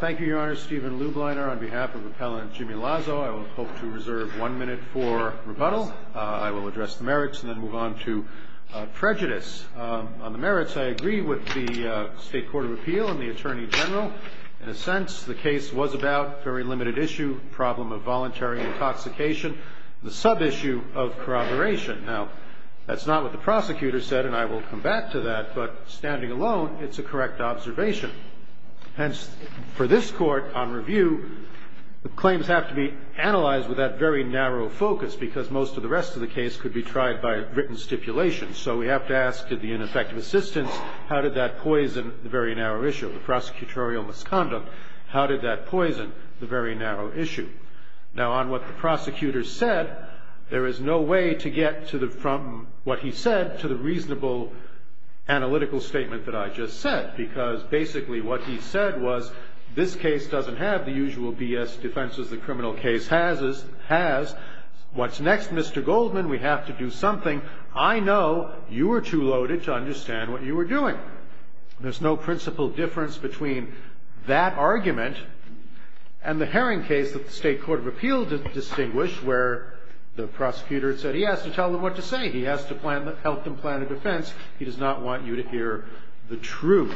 Thank you, Your Honor. Stephen Lubliner on behalf of Appellant Jimmy Lazo. I will hope to reserve one minute for rebuttal. I will address the merits and then move on to prejudice. On the merits, I agree with the State Court of Appeal and the Attorney General. In a sense, the case was about very limited issue, problem of voluntary intoxication, the sub-issue of corroboration. Now, that's not what the prosecutor said, and I will come back to that, but standing alone, it's a correct observation. Hence, for this court on review, the claims have to be analyzed with that very narrow focus because most of the rest of the case could be tried by written stipulation. So we have to ask, did the ineffective assistance, how did that poison the very narrow issue? The prosecutorial misconduct, how did that poison the very narrow issue? Now, on what the prosecutor said, there is no way to get from what he said to the reasonable analytical statement that I just said because basically what he said was this case doesn't have the usual B.S. defenses the criminal case has. What's next, Mr. Goldman? We have to do something. I know you were too loaded to understand what you were doing. There's no principal difference between that argument and the Herring case that the State Court of Appeal distinguished where the prosecutor said he has to tell them what to say. He has to help them plan a defense. He does not want you to hear the truth.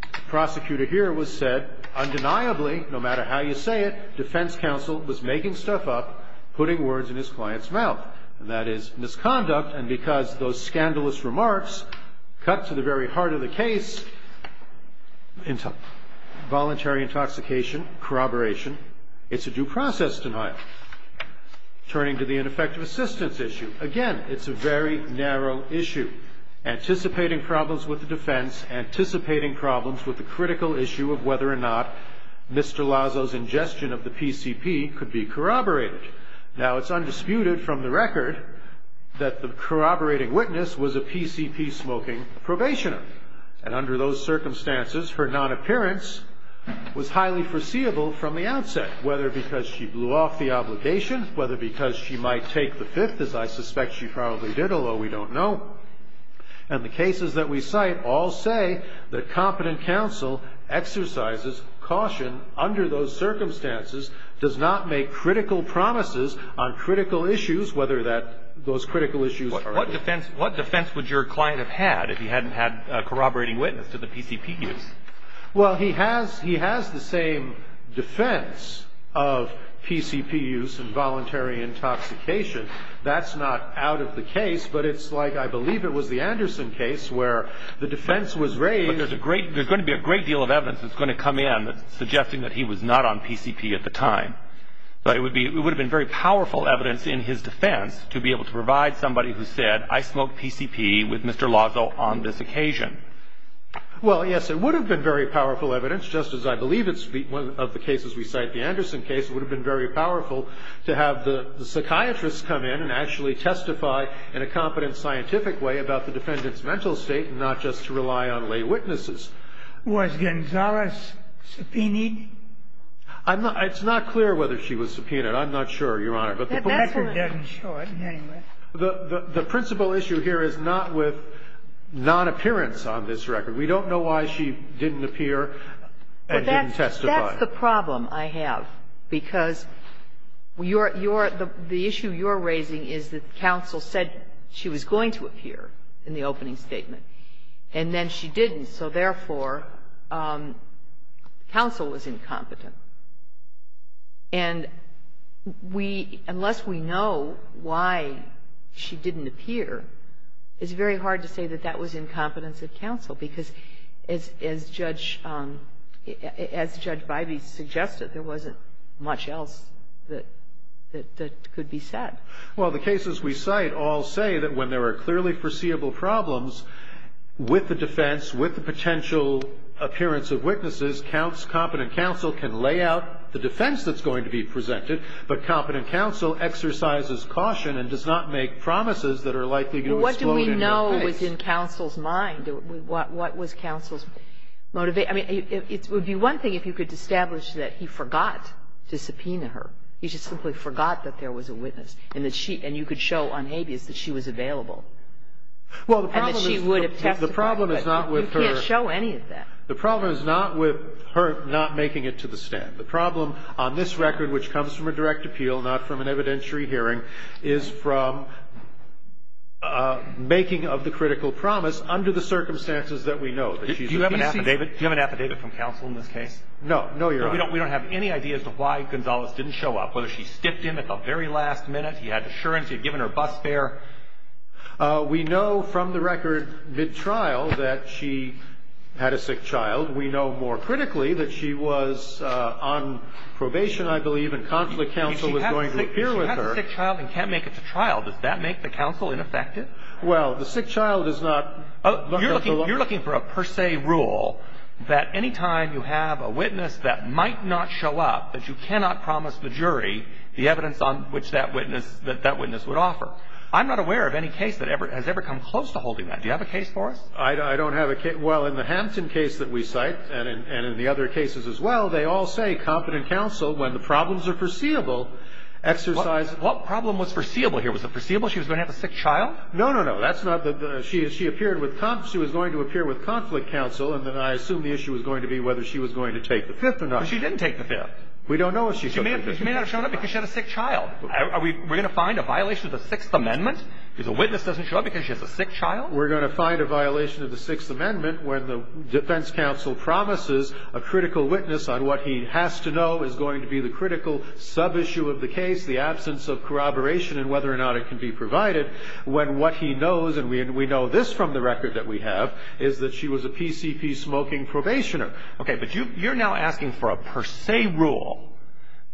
The prosecutor here was said, undeniably, no matter how you say it, defense counsel was making stuff up, putting words in his client's mouth, and that is misconduct, and because those scandalous remarks cut to the very heart of the case, voluntary intoxication, corroboration, it's a due process denial. Turning to the ineffective assistance issue, again, it's a very narrow issue. Anticipating problems with the defense, anticipating problems with the critical issue of whether or not Mr. Lazo's ingestion of the PCP could be corroborated. Now, it's undisputed from the record that the corroborating witness was a PCP-smoking probationer, and under those circumstances, her non-appearance was highly foreseeable from the outset, whether because she blew off the obligation, whether because she might take the Fifth, as I suspect she probably did, although we don't know, and the cases that we cite all say that competent counsel exercises caution under those circumstances, does not make critical promises on critical issues, whether that those critical issues are... What defense would your client have had if he hadn't had a corroborating witness to the PCP use? Well, he has the same defense of PCP use and voluntary intoxication. That's not out of the case, but it's like I believe it was the Anderson case where the defense was raised... But there's going to be a great deal of evidence that's going to come in suggesting that he was not on PCP at the time. But it would have been very powerful evidence in his defense to be able to provide somebody who said, I smoked PCP with Mr. Lazo on this occasion. Well, yes, it would have been very powerful evidence, just as I believe it's one of the cases we cite, the Anderson case. It would have been very powerful to have the psychiatrist come in and actually testify in a competent scientific way about the defendant's mental state and not just to rely on lay witnesses. Was Gonzalez subpoenaed? I'm not – it's not clear whether she was subpoenaed. I'm not sure, Your Honor. The record doesn't show it anyway. The principal issue here is not with non-appearance on this record. We don't know why she didn't appear and didn't testify. But that's the problem I have, because your – the issue you're raising is that counsel said she was going to appear in the opening statement, and then she didn't. So therefore, counsel was incompetent. And we – unless we know why she didn't appear, it's very hard to say that that was incompetence of counsel, because as Judge – as Judge Bivey suggested, there wasn't much else that – that could be said. Well, the cases we cite all say that when there are clearly foreseeable problems with the defense, with the potential appearance of witnesses, counts – competent counsel can lay out the defense that's going to be presented, but competent counsel exercises caution and does not make promises that are likely to explode in their face. Well, what do we know was in counsel's mind? What was counsel's motivation? I mean, it would be one thing if you could establish that he forgot to subpoena her. He just simply forgot that there was a witness, and that she – and you could show on habeas that she was available. Well, the problem is – And that she would have testified, but you can't show any of that. The problem is not with her not making it to the stand. The problem on this record, which comes from a direct appeal, not from an evidentiary hearing, is from making of the critical promise under the circumstances that we know that she's a witness. Do you have an affidavit? Do you have an affidavit from counsel in this case? No, Your Honor. We don't have any idea as to why Gonzales didn't show up, whether she skipped him at the very last minute. He had assurance. He had given her bus fare. We know from the record mid-trial that she had a sick child. We know more critically that she was on probation, I believe, and conflict counsel was going to appear with her. If she has a sick child and can't make it to trial, does that make the counsel ineffective? Well, the sick child is not – You're looking for a per se rule that any time you have a witness that might not show up, that you cannot promise the jury the evidence on which that witness would offer. I'm not aware of any case that has ever come close to holding that. Do you have a case for us? I don't have a case. Well, in the Hampton case that we cite and in the other cases as well, they all say confident counsel, when the problems are foreseeable, exercises – What problem was foreseeable here? Was it foreseeable she was going to have a sick child? No, no, no. That's not the – she appeared with – she was going to appear with conflict counsel, and then I assume the issue was going to be whether she was going to take the Fifth or not. But she didn't take the Fifth. We don't know if she took the Fifth. She may not have shown up because she had a sick child. Are we – we're going to find a violation of the Sixth Amendment if the witness doesn't show up because she has a sick child? We're going to find a violation of the Sixth Amendment when the defense counsel promises a critical witness on what he has to know is going to be the critical sub-issue of the case, the absence of corroboration and whether or not it can be provided, when what he knows, and we know this from the record that we have, is that she was a PCP smoking probationer. Okay, but you're now asking for a per se rule.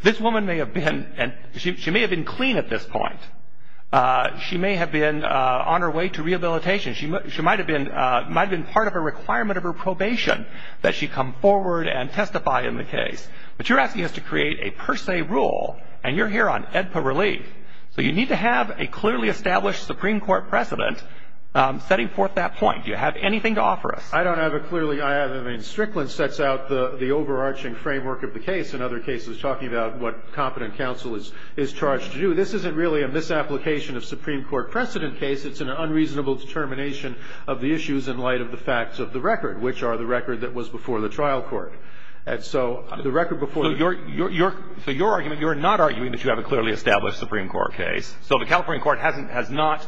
This woman may have been – she may have been clean at this point. She may have been on her way to rehabilitation. She might have been part of a requirement of her probation that she come forward and testify in the case. But you're asking us to create a per se rule, and you're here on AEDPA relief. So you need to have a clearly established Supreme Court precedent setting forth that point. Do you have anything to offer us? I don't have a clearly – I have – I mean, Strickland sets out the overarching framework of the case. In other cases, he's talking about what competent counsel is charged to do. This isn't really a misapplication of Supreme Court precedent case. It's an unreasonable determination of the issues in light of the facts of the record, which are the record that was before the trial court. And so the record before the – So you're – so your argument, you're not arguing that you have a clearly established Supreme Court case. So the California court hasn't – has not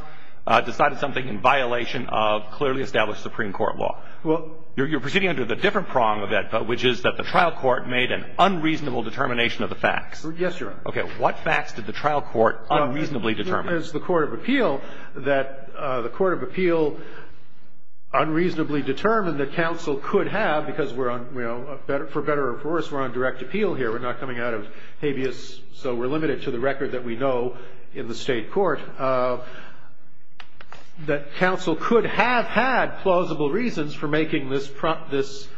decided something in violation of clearly established Supreme Court law. Well – You're proceeding under the different prong of AEDPA, which is that the trial court made an unreasonable determination of the facts. Yes, Your Honor. What facts did the trial court unreasonably determine? It's the court of appeal that the court of appeal unreasonably determined that counsel could have, because we're on – you know, for better or for worse, we're on direct appeal here. We're not coming out of habeas, so we're limited to the record that we know in the state court, that counsel could have had plausible reasons for making this promise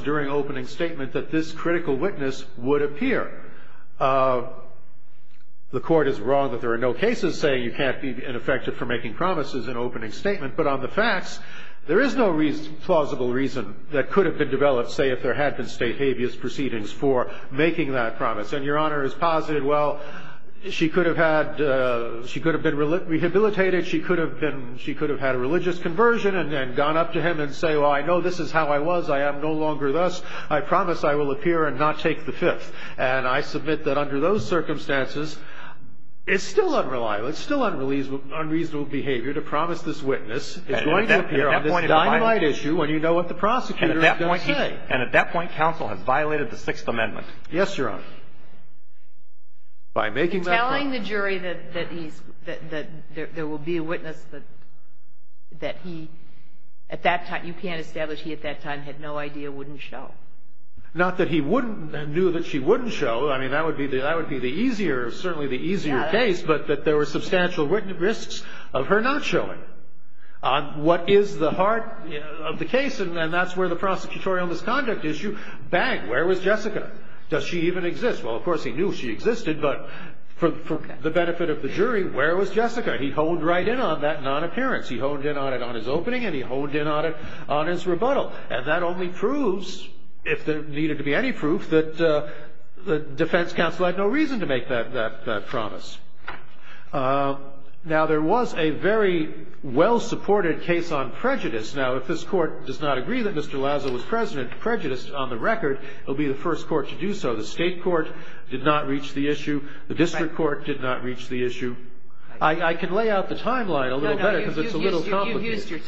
during opening statement that this critical witness would appear. The court is wrong that there are no cases saying you can't be ineffective for making promises in opening statement. But on the facts, there is no plausible reason that could have been developed, say, if there had been state habeas proceedings for making that promise. And Your Honor is positive. Well, she could have had – she could have been rehabilitated. She could have been – she could have had a religious conversion and then gone up to him and say, well, I know this is how I was. I am no longer thus. I promise I will appear and not take the Fifth. And I submit that under those circumstances, it's still unreliable. It's still unreasonable behavior to promise this witness is going to appear on this dynamite issue when you know what the prosecutor is going to say. And at that point, counsel has violated the Sixth Amendment. Yes, Your Honor. By making that promise. By telling the jury that he's – that there will be a witness that he at that time – you can't establish he at that time had no idea wouldn't show. Not that he wouldn't – knew that she wouldn't show. I mean, that would be the – that would be the easier – certainly the easier case, but that there were substantial risks of her not showing. What is the heart of the case, and that's where the prosecutorial misconduct issue – bang, where was Jessica? Does she even exist? Well, of course, he knew she existed, but for the benefit of the jury, where was Jessica? He honed right in on that non-appearance. He honed in on it on his opening, and he honed in on it on his rebuttal. And that only proves, if there needed to be any proof, that the defense counsel had no reason to make that promise. Now, there was a very well-supported case on prejudice. Now, if this Court does not agree that Mr. Lazo was prejudiced on the record, it will be the first Court to do so. The State Court did not reach the issue. The district court did not reach the issue. I can lay out the timeline a little better because it's a little complicated.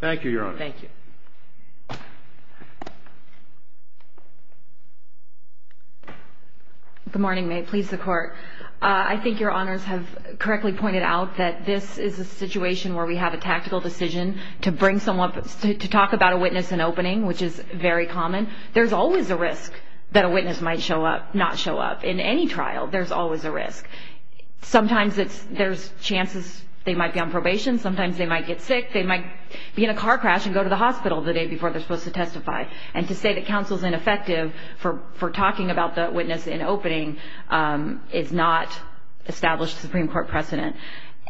Thank you, Your Honor. Thank you. Good morning. May it please the Court. I think Your Honors have correctly pointed out that this is a situation where we have a tactical decision to bring someone up – to talk about a witness in opening, which is very common. There's always a risk that a witness might show up, not show up. Sometimes there's chances of a witness not showing up. Sometimes they might be on probation. Sometimes they might get sick. They might be in a car crash and go to the hospital the day before they're supposed to testify. And to say that counsel's ineffective for talking about the witness in opening is not established Supreme Court precedent.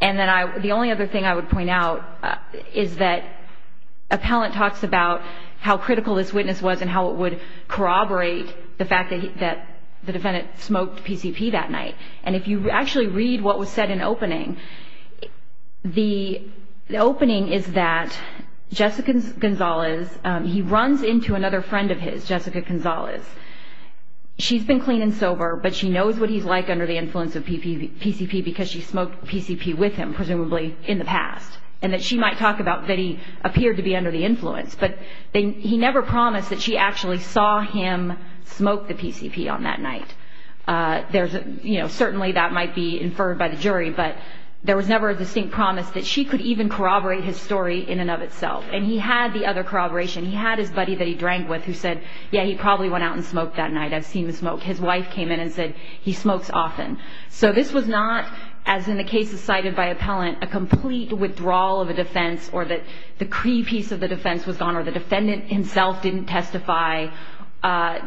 And then the only other thing I would point out is that appellant talks about how critical this witness was and how it would corroborate the fact that the defendant smoked PCP that night. And if you actually read what was said in opening, the opening is that Jessica Gonzalez – he runs into another friend of his, Jessica Gonzalez. She's been clean and sober, but she knows what he's like under the influence of PCP because she smoked PCP with him, presumably in the past, and that she might talk about that he appeared to be under the influence. But he never promised that she actually saw him smoke the PCP on that night. Certainly that might be inferred by the jury, but there was never a distinct promise that she could even corroborate his story in and of itself. And he had the other corroboration. He had his buddy that he drank with who said, yeah, he probably went out and smoked that night. I've seen the smoke. His wife came in and said, he smokes often. So this was not, as in the cases cited by appellant, a complete withdrawal of a defense or that the key piece of the defense was gone or the defendant himself didn't testify.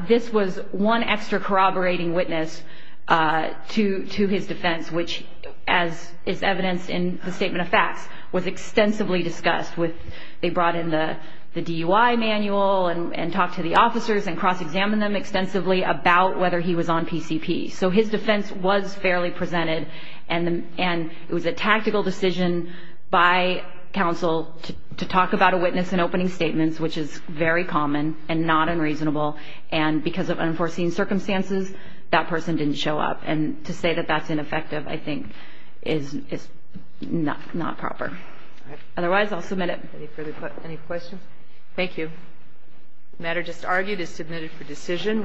This was one extra corroborating witness to his defense, which, as is evidenced in the statement of facts, was extensively discussed. They brought in the DUI manual and talked to the officers and cross-examined them extensively about whether he was on PCP. So his defense was fairly presented, and it was a tactical decision by counsel to talk about a witness in opening statements, which is very common and not unreasonable. And because of unforeseen circumstances, that person didn't show up. And to say that that's ineffective, I think, is not proper. Otherwise, I'll submit it. Any further questions? Thank you. The matter just argued is submitted for decision.